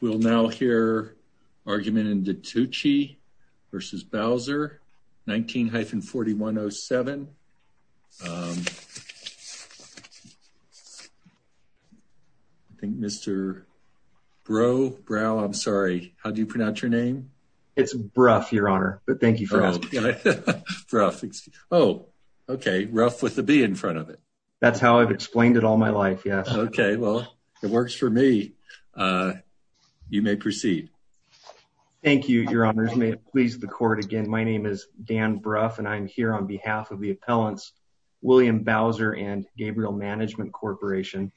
We'll now hear argument in DiTucci v. Bowser, 19-4107. I think Mr. Brough, Brough, I'm sorry, how do you pronounce your name? It's Brough, your honor, but thank you for asking. Yeah, Brough. Oh, okay, Ruff with a B in front of it. That's how I've explained it all my life, yes. Okay, well, it works for me. You may proceed. Thank you, your honors. May it please the court, again, my name is Dan Brough and I'm here on behalf of the appellants, William Bowser and Gabriel Management Corporation.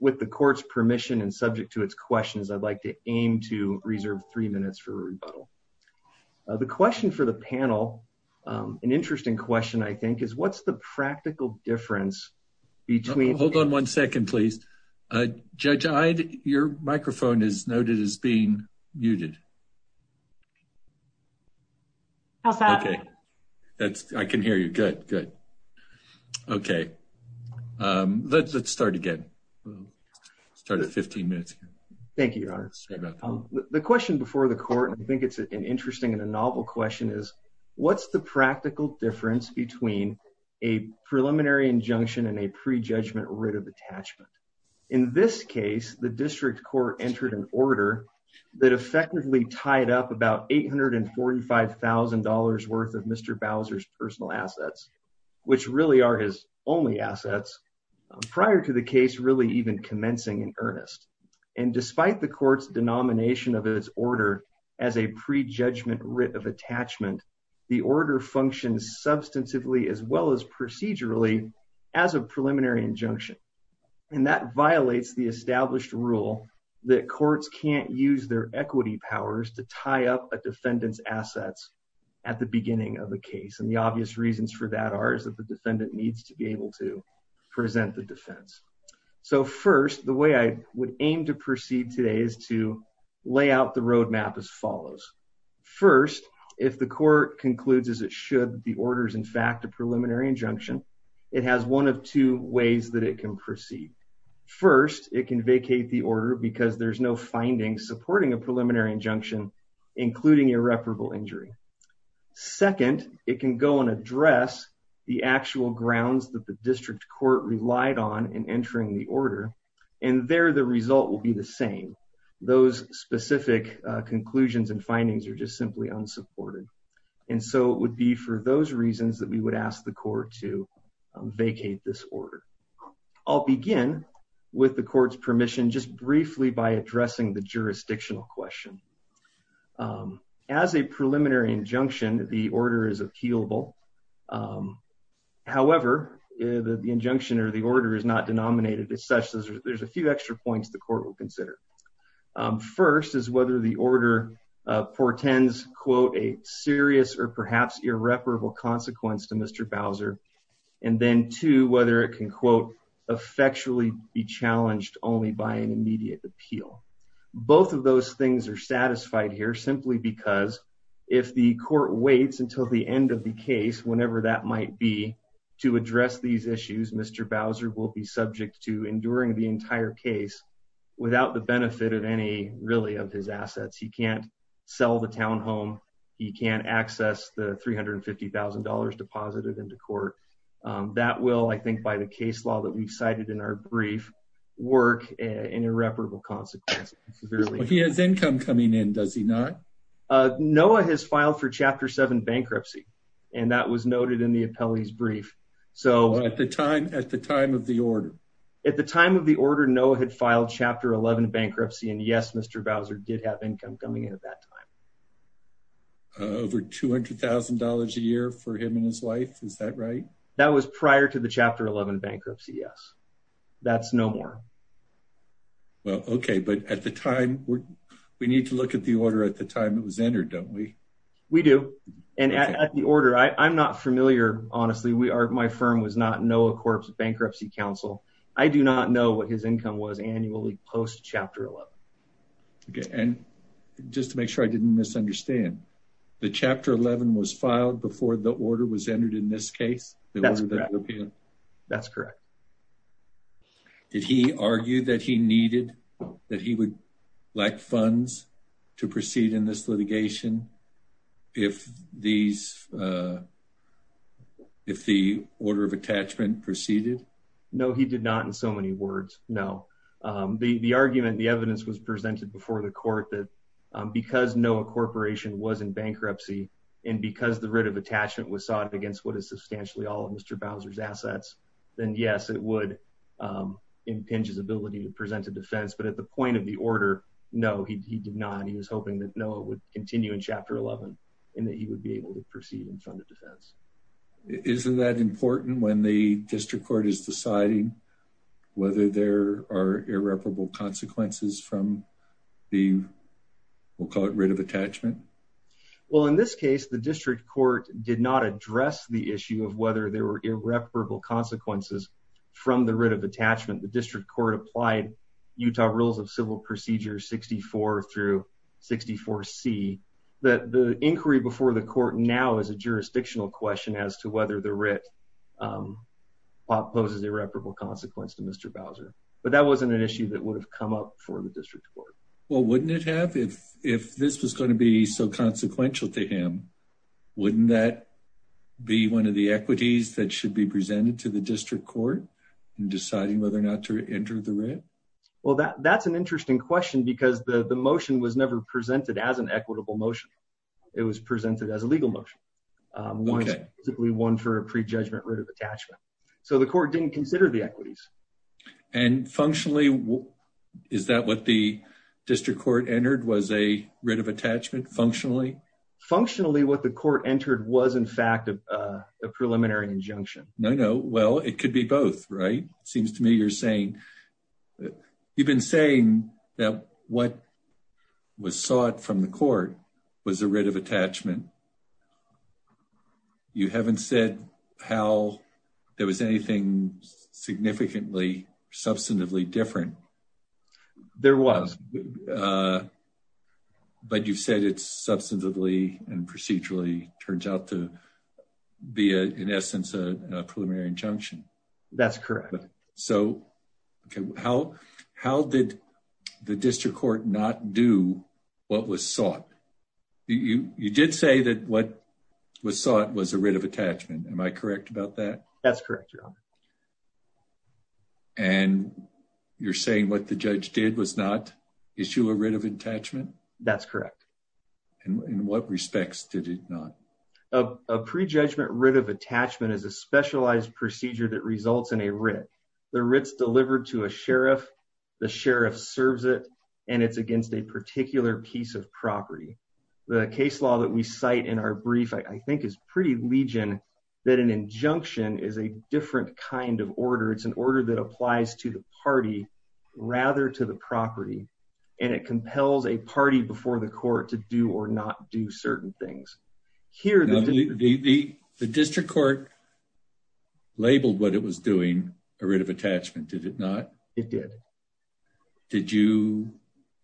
With the court's permission and subject to its questions, I'd like to aim to reserve three minutes for rebuttal. The question for the panel, an interesting question, I think, is what's the practical difference between... Hold on one second, please. Judge Ide, your microphone is noted as being muted. How's that? Okay, I can hear you. Good, good. Okay, let's start again. Start at 15 minutes. Thank you, your honor. The question before the court, I think it's an interesting and a novel question, is what's the practical difference between a preliminary injunction and a pre-judgment writ of attachment? In this case, the district court entered an order that effectively tied up about $845,000 worth of Mr. Bowser's personal assets, which really are his only assets, prior to the case really even commencing in earnest. And despite the court's denomination of its order as a pre-judgment writ of attachment, the order functions substantively as well as procedurally as a preliminary injunction. And that violates the established rule that courts can't use their equity powers to tie up a defendant's assets at the beginning of the case. And the obvious reasons for that are that the defendant needs to be able to present the defense. So first, the way I would aim to proceed today is to lay out the roadmap as follows. First, if the court concludes as it should, the order is in fact a preliminary injunction, it has one of two ways that it can proceed. First, it can vacate the order because there's no findings supporting a preliminary injunction, including irreparable injury. Second, it can go and address the actual grounds that the district court relied on in entering the order, and there the result will be the same. Those specific conclusions and findings are just simply unsupported. And so it would be for those reasons that we would ask the court to vacate this order. I'll begin with the court's permission just briefly by addressing the jurisdictional question. As a preliminary injunction, the order is appealable. However, the injunction or the order is not denominated as such. There's a few extra points the court will consider. First is whether the order portends, quote, a serious or perhaps irreparable consequence to Mr. Bowser. And then two, whether it can quote, effectually be challenged only by an immediate appeal. Both of those things are satisfied here simply because if the court waits until the end of the case, whenever that might be, to address these issues, Mr. Bowser will be subject to enduring the entire case without the benefit of any really of his assets. He can't sell the town home. He can't access the $350,000 deposited into court. That will, I think, by the case law that we cited in our brief, work an irreparable consequence. He has income coming in, does he not? Noah has filed for Chapter 7 bankruptcy, and that was noted in the appellee's brief. So at the time of the order? At the time of the order, Noah had filed Chapter 11 bankruptcy, and yes, Mr. Bowser did have income coming in at that time. Over $200,000 a year for him and his bankruptcy, yes. That's no more. Well, okay, but at the time, we need to look at the order at the time it was entered, don't we? We do. And at the order, I'm not familiar, honestly, my firm was not Noah Corp's Bankruptcy Council. I do not know what his income was annually post Chapter 11. Okay, and just to make sure I didn't misunderstand, the Chapter 11 was filed before the order was entered? That's correct. Did he argue that he needed, that he would lack funds to proceed in this litigation if these, if the order of attachment proceeded? No, he did not in so many words, no. The argument, the evidence was presented before the court that because Noah Corporation was in bankruptcy, and because the writ of attachment was sought against what is substantially all of Mr. Bowser's then yes, it would impinge his ability to present a defense. But at the point of the order, no, he did not. He was hoping that Noah would continue in Chapter 11, and that he would be able to proceed in front of defense. Isn't that important when the district court is deciding whether there are irreparable consequences from the, we'll call it writ of attachment? Well, in this case, the district court did not address the issue of whether there were irreparable consequences from the writ of attachment. The district court applied Utah Rules of Civil Procedure 64 through 64C. The inquiry before the court now is a jurisdictional question as to whether the writ poses irreparable consequence to Mr. Bowser. But that wasn't an issue that would have come up for the district court. Well, wouldn't it have if this was going to be so consequential to him? Wouldn't that be one of the equities that should be presented to the district court in deciding whether or not to enter the writ? Well, that's an interesting question because the motion was never presented as an equitable motion. It was presented as a legal motion, one for a prejudgment writ of attachment. So the court didn't consider the functionally? Functionally, what the court entered was, in fact, a preliminary injunction. No, no. Well, it could be both, right? It seems to me you're saying, you've been saying that what was sought from the court was a writ of attachment. You haven't said how there was anything significantly, substantively different. There was, but you've said it's substantively and procedurally turns out to be, in essence, a preliminary injunction. That's correct. So how did the district court not do what was sought? You did say that what was sought was a writ of attachment. Am I correct about that? That's what the judge did was not issue a writ of attachment? That's correct. In what respects did it not? A prejudgment writ of attachment is a specialized procedure that results in a writ. The writ's delivered to a sheriff, the sheriff serves it, and it's against a particular piece of property. The case law that we cite in our brief, I think is pretty legion, that an injunction is a different kind of order. It's an order that applies to the party rather to the property, and it compels a party before the court to do or not do certain things. The district court labeled what it was doing a writ of attachment, did it not? It did. Did you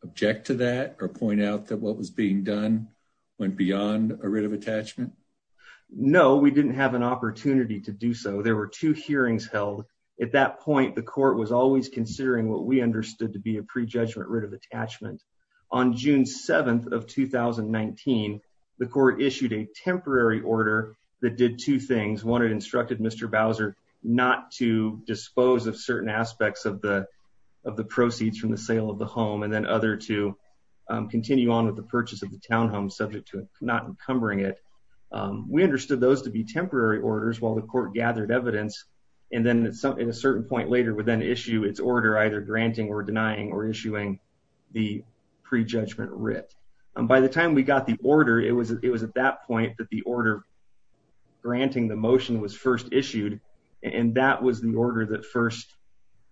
object to that or point out that what was being done went beyond a writ of attachment? No, we didn't have an opportunity to do so. There were two hearings held. At that point, the court was always considering what we understood to be a prejudgment writ of attachment. On June 7th of 2019, the court issued a temporary order that did two things. One, it instructed Mr. Bowser not to dispose of certain aspects of the proceeds from the sale of the home, and then other to continue on with the purchase of the townhome subject to not encumbering it. We understood those to be temporary orders while the court gathered evidence, and then at a certain point later would then issue its order either granting or denying or issuing the prejudgment writ. By the time we got the order, it was at that point that the order granting the motion was first issued, and that was the order that first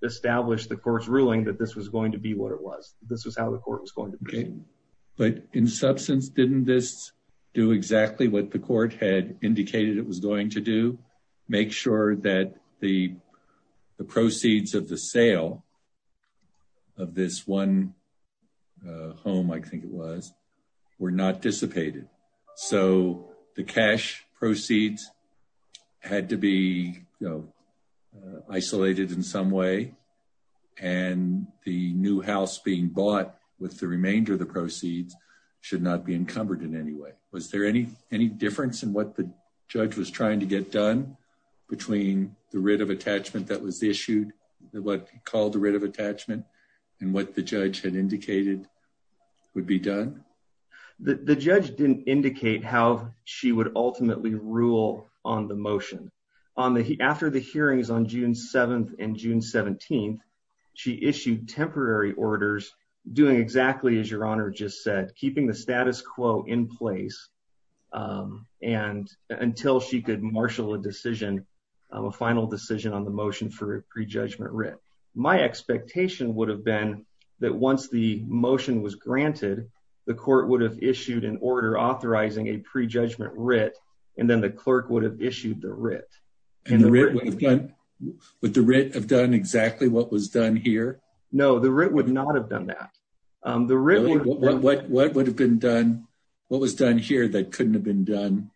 established the court's ruling that this was going to be what it was. This was how the court was going to proceed. Okay, but in substance, didn't this do exactly what the court had indicated it was going to do? Make sure that the proceeds of the sale of this one home, I think it was, were not dissipated. So, the cash proceeds had to be isolated in some way, and the new house being bought with the anyway. Was there any difference in what the judge was trying to get done between the writ of attachment that was issued, what he called the writ of attachment, and what the judge had indicated would be done? The judge didn't indicate how she would ultimately rule on the motion. After the hearings on June 7th and June 17th, she issued temporary orders doing exactly as in place until she could marshal a decision, a final decision on the motion for a prejudgment writ. My expectation would have been that once the motion was granted, the court would have issued an order authorizing a prejudgment writ, and then the clerk would have issued the writ. Would the writ have done exactly what was done here? No, the writ would not have done that. The writ... What would have been done? What was done here that couldn't have been done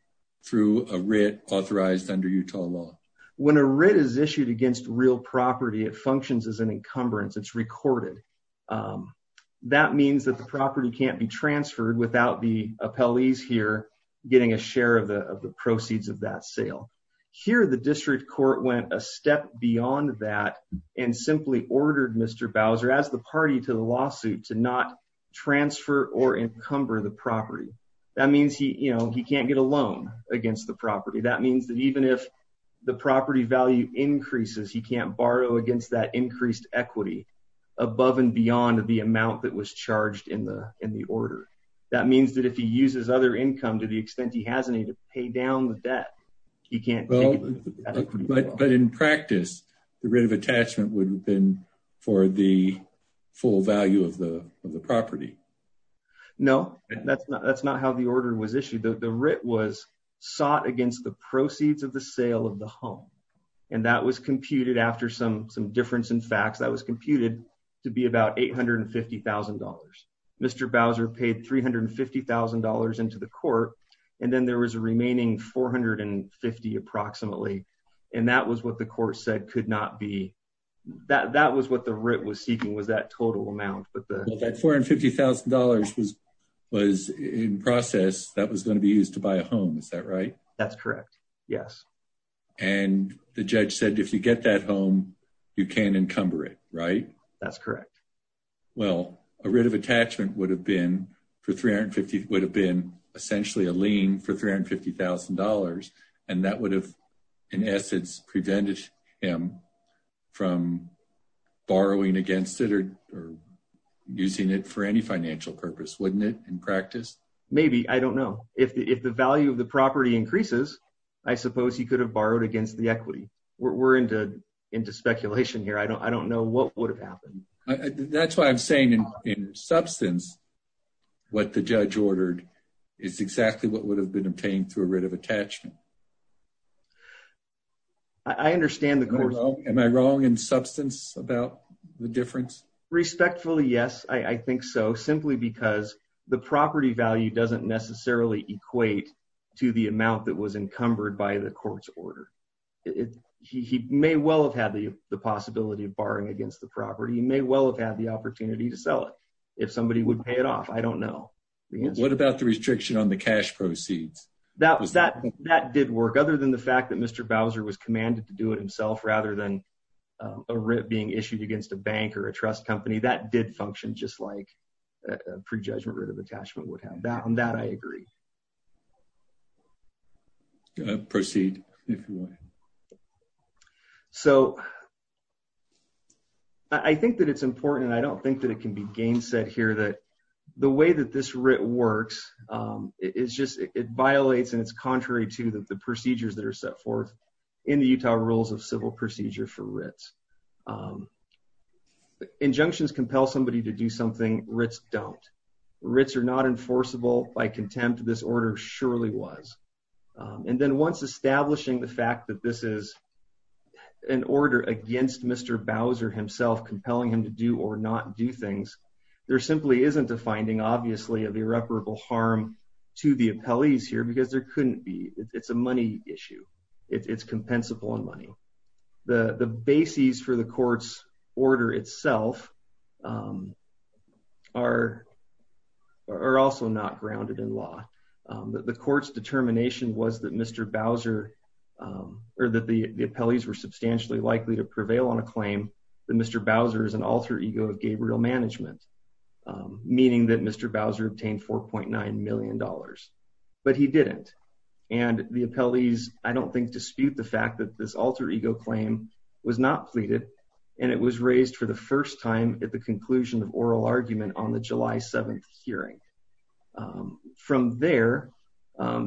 through a writ authorized under Utah law? When a writ is issued against real property, it functions as an encumbrance. It's recorded. That means that the property can't be transferred without the appellees here getting a share of the proceeds of that sale. Here, the district court went a step beyond that and simply ordered Mr. Bowser as the party to the lawsuit to not transfer or encumber the property. That means he can't get a loan against the property. That means that even if the property value increases, he can't borrow against that increased equity above and beyond the amount that was charged in the order. That means that if he uses other but in practice, the writ of attachment would have been for the full value of the property. No, that's not how the order was issued. The writ was sought against the proceeds of the sale of the home, and that was computed after some difference in facts. That was computed to be about $850,000. Mr. Bowser paid $350,000 into the court, and then there was a remaining $450,000 approximately. That was what the writ was seeking, was that total amount. That $450,000 was in process that was going to be used to buy a home, is that right? That's correct, yes. The judge said if you get that home, you can't encumber it, right? That's correct. A writ of attachment would have been essentially a lien for $350,000, and that would have in essence prevented him from borrowing against it or using it for any financial purpose, wouldn't it, in practice? Maybe, I don't know. If the value of the property increases, I suppose he could have borrowed against the equity. We're into speculation here. I don't know what would have happened. That's why I'm saying in substance, what the attachment. Am I wrong in substance about the difference? Respectfully, yes. I think so, simply because the property value doesn't necessarily equate to the amount that was encumbered by the court's order. He may well have had the possibility of borrowing against the property. He may well have had the opportunity to sell it if somebody would pay it off. I don't know. What about the restriction on the cash proceeds? That did work. Other than the fact that Mr. Bowser was commanded to do it himself rather than a writ being issued against a bank or a trust company, that did function just like a pre-judgment writ of attachment would have. On that, I agree. Proceed if you want. I think that it's important, and I don't think that it can be gainsaid here, that the way that this writ works, it violates and it's contrary to the procedures that are set forth in the Utah Rules of Civil Procedure for writs. Injunctions compel somebody to do something writs don't. Writs are not enforceable by contempt. This order surely was. And then once establishing the fact that this is an order against Mr. Bowser himself compelling him to do or not do things, there simply isn't a finding, obviously, of irreparable harm to the appellees here because there couldn't be. It's a money issue. It's compensable in money. The bases for the court's order itself are also not grounded in law. The court's determination was that Mr. Bowser or that the appellees were substantially likely to prevail on a claim that Mr. Bowser is an alter ego of Gabriel Management, meaning that Mr. Bowser obtained $4.9 million. But he didn't. And the appellees, I don't think, dispute the fact that this alter ego claim was not pleaded, and it was raised for the first time at the conclusion of oral argument on the July 7th hearing. From there,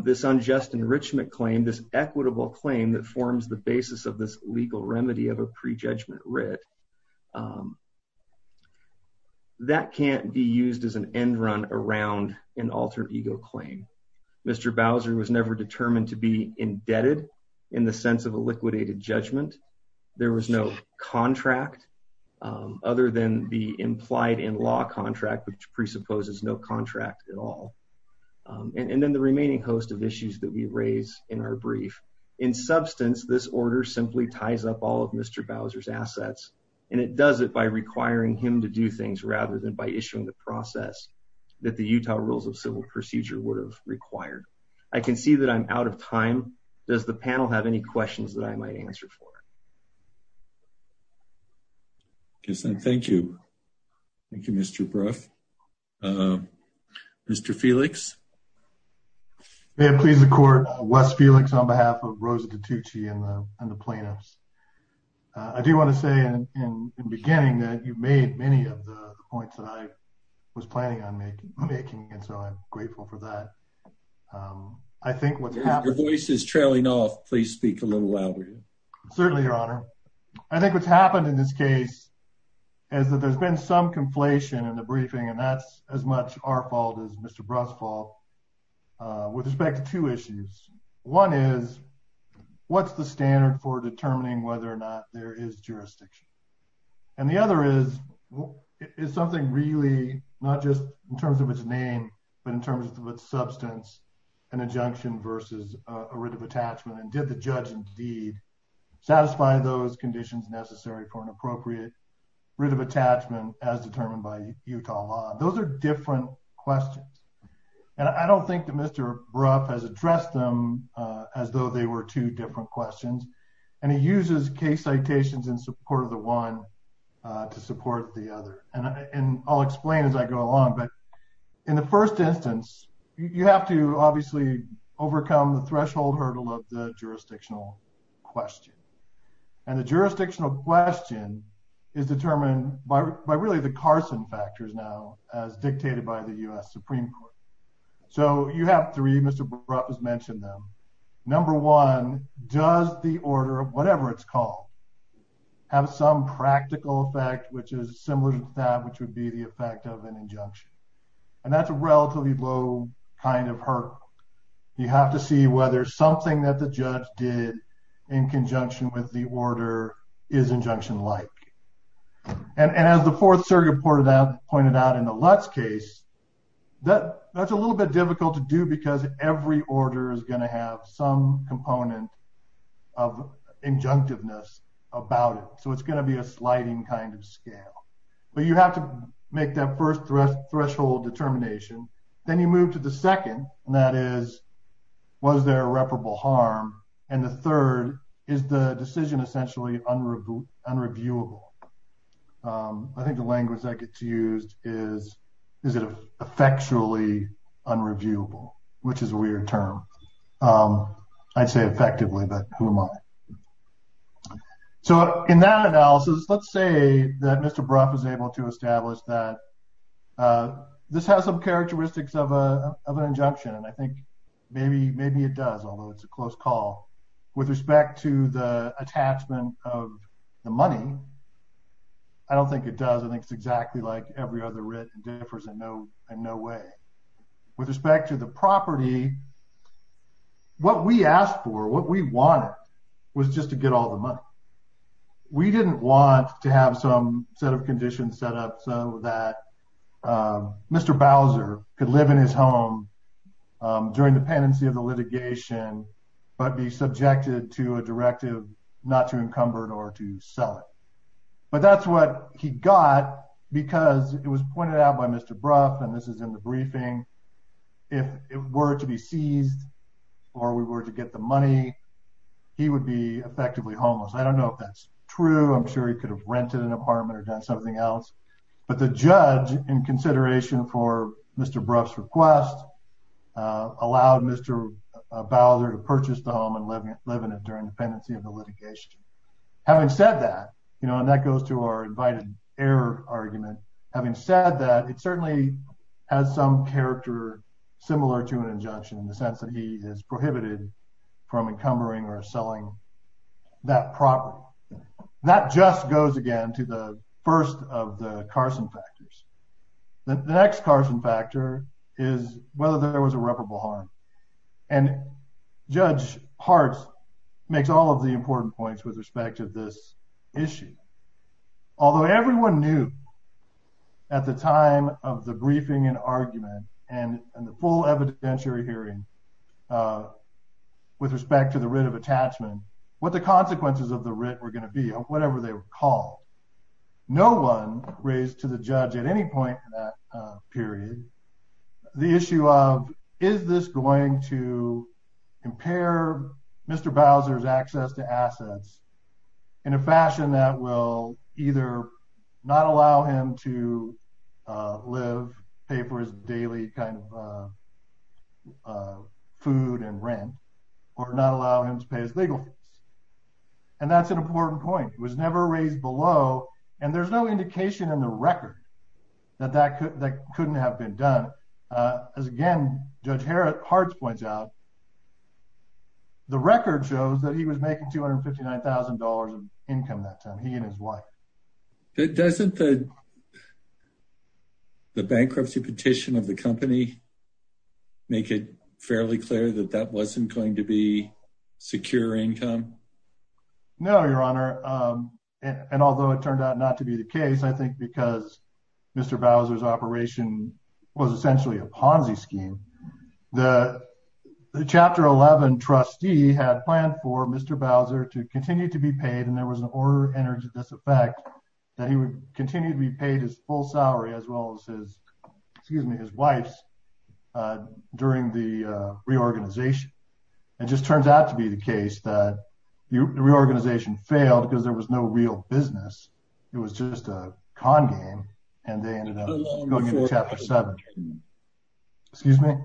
this unjust enrichment claim, this equitable claim that forms the basis of this legal remedy of a prejudgment writ, that can't be used as an end run around an alter ego claim. Mr. Bowser was never determined to be indebted in the sense of a liquidated judgment. There was no contract other than the implied in law contract, which presupposes no contract at all. And then the remaining host of issues that we raise in our brief. In substance, this order simply ties up all of Mr. Bowser's assets, and it does it by requiring him to do things rather than by issuing the process that the Utah Rules of Civil Procedure would have required. I can see that I'm out of time. Does the panel have any questions that I might answer for? Yes, and thank you. Thank you, Mr. Brough. Mr. Felix. May it please the court, Wes Felix on behalf of Rosa DiTucci and the plaintiffs. I do want to say in the beginning that you made many of the points that I was planning on making, and so I'm grateful for that. I think what's happening... If your voice is trailing off, please speak a little louder. Certainly, Your Honor. I think what's happened in this case is that there's been some conflation in the briefing, and that's as much our fault as Mr. Brough's fault with respect to two issues. One is, what's the standard for determining whether or not there is jurisdiction? And the other is, is something really not just in terms of its name, but in terms of its substance, an injunction versus a writ of attachment, and did the judge indeed satisfy those conditions necessary for an appropriate writ of attachment as determined by Utah law? Those are different questions, and I don't think that Mr. Brough has addressed them as though they were two different questions, and he uses case citations in support of the one to support the other, and I'll explain as I go along, but in the first instance, you have to obviously overcome the threshold hurdle of the jurisdictional question, and the jurisdictional question is determined by really the Carson factors now as dictated by the U.S. Supreme Court, so you have three. Mr. Brough has mentioned them. Number one, does the order of whatever it's called have some practical effect, which is similar to that which would be the effect of an injunction, and that's a relatively low kind of hurdle. You have to see whether something that the judge did in conjunction with the order is injunction-like, and as the fourth circuit pointed out in the Lutz case, that's a little bit difficult to do because every order is going to have some component of injunctiveness about it, so it's going to be a sliding kind of scale, but you have to make that first threshold determination. Then you move to the second, and that is was there a reparable harm, and the third is the decision essentially unreviewable. I think the language that gets my. So in that analysis, let's say that Mr. Brough is able to establish that this has some characteristics of an injunction, and I think maybe it does, although it's a close call. With respect to the attachment of the money, I don't think it does. I think it's exactly like every other writ and differs in no way. With respect to the property, what we asked for, what we wanted was just to get all the money. We didn't want to have some set of conditions set up so that Mr. Bowser could live in his home during the pendency of the litigation but be subjected to a directive not to encumber it or to sell it, but that's what he got because it was pointed out by Mr. Brough, and this is in the briefing. If it were to be seized or we were to get the money, he would be effectively homeless. I don't know if that's true. I'm sure he could have rented an apartment or done something else, but the judge in consideration for Mr. Brough's request allowed Mr. Bowser to purchase the home and live in it during the pendency of the litigation. Having said that, and that goes to our invited heir argument, having said that, it certainly has some character similar to an injunction in the sense that he is prohibited from encumbering or selling that property. That just goes again to the first of the Carson factors. The next Carson factor is whether there was irreparable harm, and Judge at the time of the briefing and argument and the full evidentiary hearing with respect to the writ of attachment, what the consequences of the writ were going to be, whatever they were called. No one raised to the judge at any point in that period the issue of is this going to impair Mr. Bowser's access to assets in a fashion that will either not allow him to live, pay for his daily kind of food and rent, or not allow him to pay his legal fees. And that's an important point. It was never raised below, and there's no indication in the record that that couldn't have been done. As again, Judge Hart points out, the record shows that he was making $259,000 of income that time, he and his wife. Doesn't the bankruptcy petition of the company make it fairly clear that that wasn't going to be secure income? No, Your Honor. And although it turned out not to be the case, I think because Mr. Bowser's operation was essentially a to continue to be paid and there was an order entered into this effect that he would continue to be paid his full salary as well as his, excuse me, his wife's during the reorganization. It just turns out to be the case that the reorganization failed because there was no real business. It was just a con game and they ended up going into Chapter 7. Excuse me?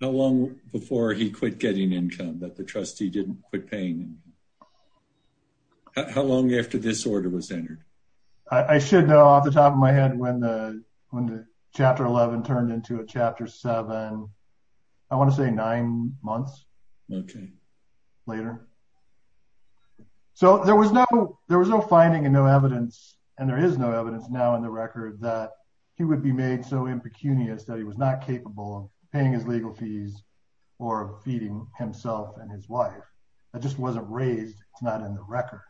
Not long before he quit getting income, that the trustee didn't quit paying. How long after this order was entered? I should know off the top of my head when the Chapter 11 turned into a Chapter 7, I want to say nine months later. So there was no finding and no evidence, and there is no evidence now in the record that he would be made so impecunious that he was not himself and his wife. That just wasn't raised. It's not in the record.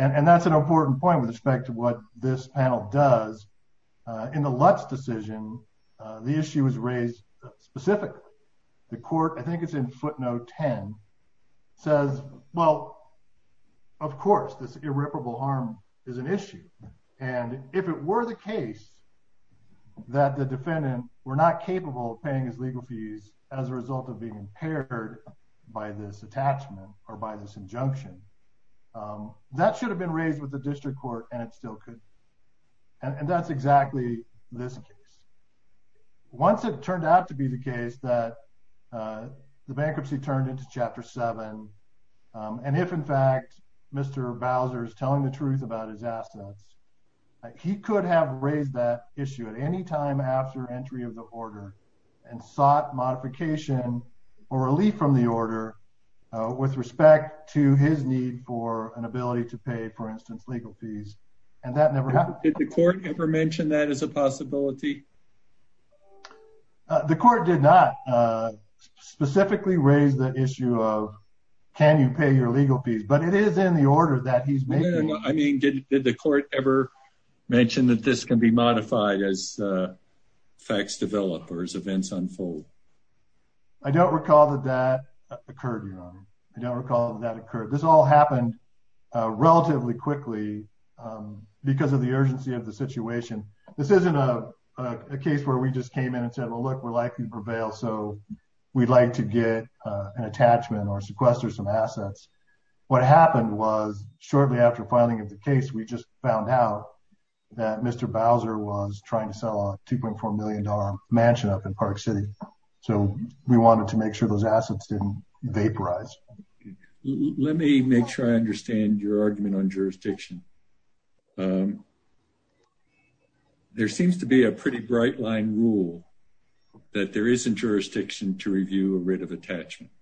And that's an important point with respect to what this panel does. In the Lutz decision, the issue was raised specifically. The court, I think it's in footnote 10, says, well, of course, this irreparable harm is an issue. And if it were the case that the defendant were not capable of paying his legal as a result of being impaired by this attachment or by this injunction, that should have been raised with the district court and it still could. And that's exactly this case. Once it turned out to be the case that the bankruptcy turned into Chapter 7, and if, in fact, Mr. Bowser is telling the truth about his assets, he could have raised that issue at any time after entry of the order and sought modification or relief from the order with respect to his need for an ability to pay, for instance, legal fees. And that never happened. Did the court ever mention that as a possibility? The court did not specifically raise the issue of can you pay your legal fees? But it is in order. Did the court ever mention that this can be modified as facts develop or as events unfold? I don't recall that that occurred, Your Honor. I don't recall that that occurred. This all happened relatively quickly because of the urgency of the situation. This isn't a case where we just came in and said, well, look, we're likely to prevail, so we'd like to get an attachment or sequester some assets. What happened was shortly after filing of the case, we just found out that Mr. Bowser was trying to sell a $2.4 million mansion up in Park City. So we wanted to make sure those assets didn't vaporize. Let me make sure I understand your argument on jurisdiction. There seems to be a pretty bright line rule that there isn't jurisdiction to review a writ of attachment.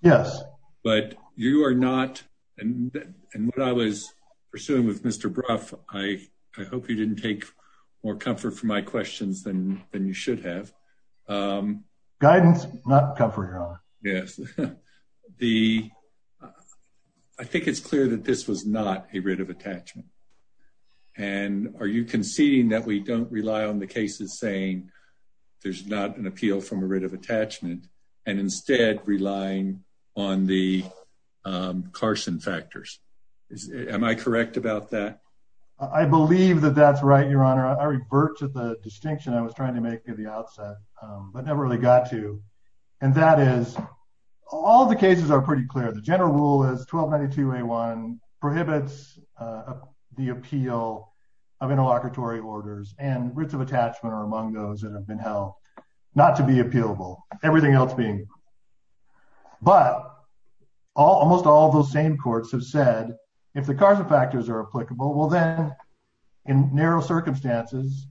Yes. But you are not, and what I was pursuing with Mr. Brough, I hope you didn't take more comfort from my questions than you should have. Guidance, not comfort, Your Honor. Yes. I think it's clear that this was not a writ of attachment. And are you conceding that we don't rely on the cases saying there's not an appeal from a writ of attachment and instead relying on the Carson factors? Am I correct about that? I believe that that's right, Your Honor. I revert to the distinction I was trying to make at the outset, but never really got to. And that is, all the cases are pretty clear. The general rule is 1292A1 prohibits the appeal of interlocutory orders, and writs of attachment are among those that have been held not to be appealable, everything else being. But almost all of those same courts have said, if the Carson factors are applicable, well then, in narrow circumstances,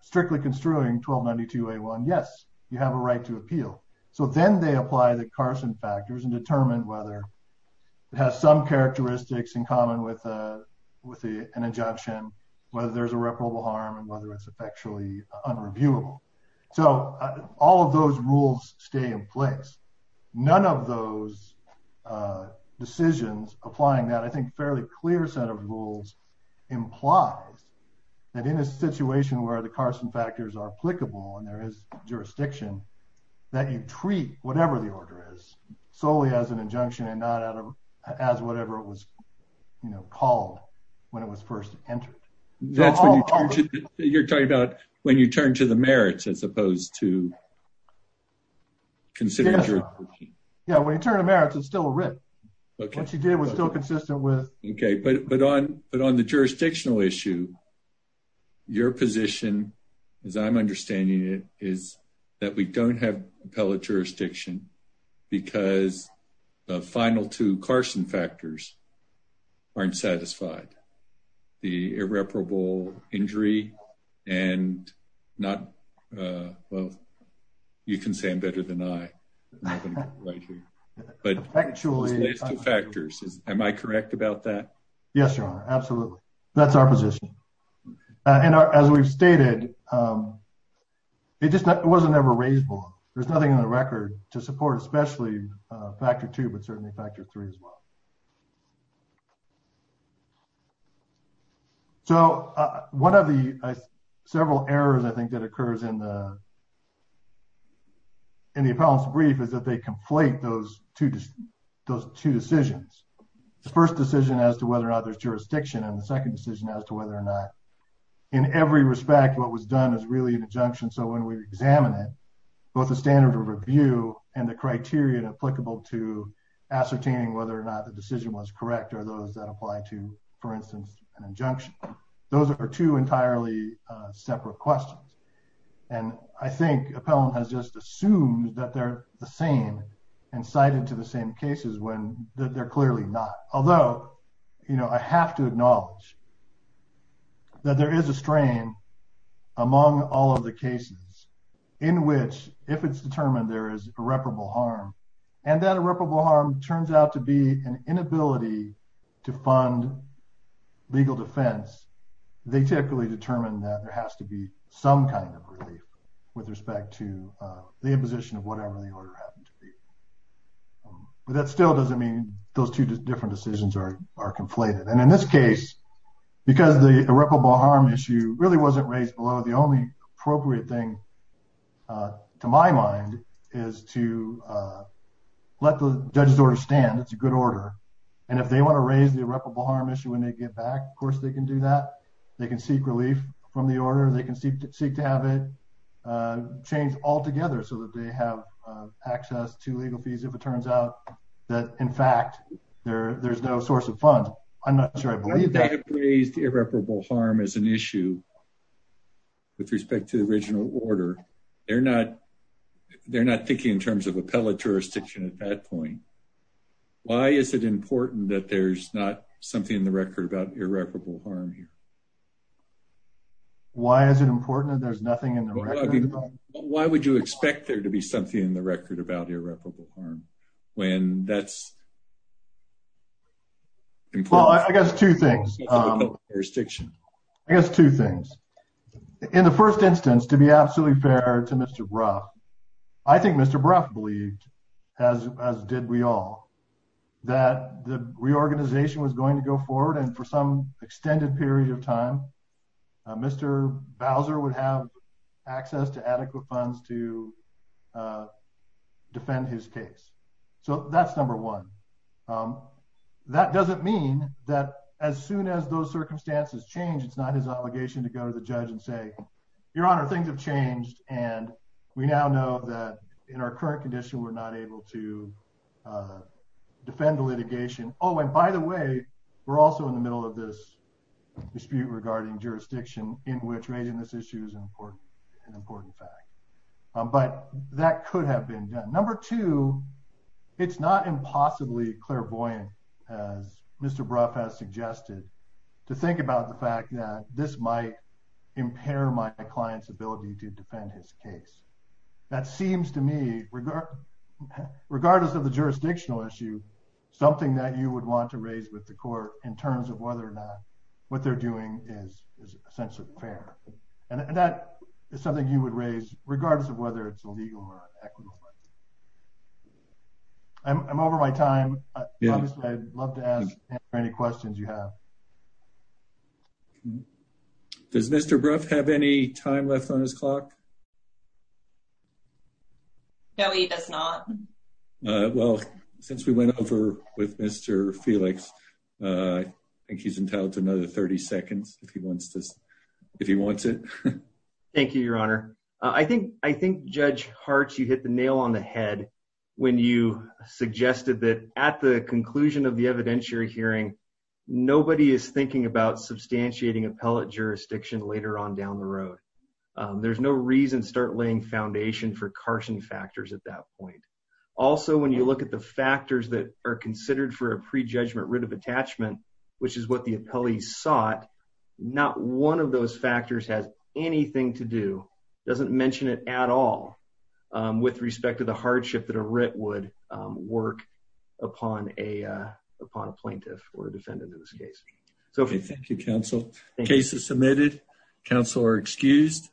strictly construing 1292A1, yes, you have a right to appeal. So then they apply the Carson factors and determine whether it has some characteristics in common with an injunction, whether there's irreparable harm and whether it's effectually unreviewable. So all of those rules stay in place. None of those decisions applying that, I think, fairly clear set of rules implies that in a situation where the Carson factors are applicable and there is jurisdiction, that you treat whatever the order is solely as an injunction and not as whatever it was called when it was first entered. That's what you're talking about when you turn to the merits as opposed to considering... Yeah, when you turn to merits, it's still a writ. What you did was still consistent with... Okay, but on the jurisdictional issue, your position, as I'm understanding it, is that we don't have appellate jurisdiction because the final two Carson factors aren't satisfied. The irreparable injury and not... Well, you can say I'm better than I, but those last two factors, am I correct about that? Yes, Your Honor. Absolutely. That's our position. And as we've stated, it just wasn't ever raised before. There's nothing on the record to support, especially factor two, but certainly factor three as well. So one of the several errors, I think, that occurs in the appellant's brief is that they conflate those two decisions. The first decision as to whether or not there's jurisdiction, and the second decision as to whether or not, in every respect, what was done is really an injunction. So when we examine it, both the standard of review and the criteria applicable to ascertaining whether or not the decision was correct are those that apply to, for instance, an injunction. Those are two entirely separate questions. And I think appellant has just assumed that they're the same and cited to the same cases when they're clearly not. Although, you know, I have to acknowledge that there is a strain among all of the cases in which, if it's determined there is irreparable harm, and that irreparable harm turns out to be an inability to fund legal defense, they typically determine that there has to be some kind of relief with respect to the imposition of whatever the order happened to be. But that still doesn't mean those two different decisions are conflated. And in this case, because the irreparable harm issue really wasn't raised below, the only appropriate thing, to my mind, is to let the judge's order stand. It's a good order. And if they want to raise the irreparable harm issue when they get back, of course, they can do that. They can seek relief from the order. They can seek to have it changed altogether so that they have access to legal fees, if it turns out that, in fact, there's no source of funds. I'm not sure I believe that. They have raised irreparable harm as an issue with respect to the original order. They're not thinking in terms of appellate jurisdiction at that point. Why is it important that there's not something in the record about irreparable harm here? Why is it important that there's nothing in the record about irreparable harm? Why would you expect there to be something in the record about irreparable harm when that's important? Well, I guess two things. I guess two things. In the first instance, to be absolutely fair to Mr. Brough, I think Mr. Brough believed, as did we all, that the reorganization was going to go forward. And for some extended period of time, Mr. Bowser would have access to adequate funds to defend his case. So that's number one. That doesn't mean that as soon as those circumstances change, it's not his obligation to go to the judge and say, Your Honor, things have changed, and we now know that in our current condition, we're not able to defend the litigation. Oh, and by the way, we're also in the middle of this dispute regarding jurisdiction in which raising this issue is an important fact. But that could have been done. Number two, it's not impossibly clairvoyant, as Mr. Brough has suggested, to think about the fact that this might impair my client's ability to defend his case. That seems to me, regardless of the jurisdictional issue, something that you would want to raise with the court in terms of whether or not what they're doing is essentially fair. And that is something you would raise, regardless of whether it's illegal or equitable. I'm over my time. I'd love to answer any questions you have. Does Mr. Brough have any time left on his clock? No, he does not. Well, since we went over with Mr. Felix, I think he's entitled to another 30 seconds if he wants it. Thank you, Your Honor. I think Judge Hart, you hit the nail on the head when you suggested that at the conclusion of the evidentiary hearing, nobody is thinking about foundation for caution factors at that point. Also, when you look at the factors that are considered for a prejudgment writ of attachment, which is what the appellees sought, not one of those factors has anything to do, doesn't mention it at all, with respect to the hardship that a writ would work upon a plaintiff or defendant in this case. Thank you, counsel. Case is submitted. Counsel are excused.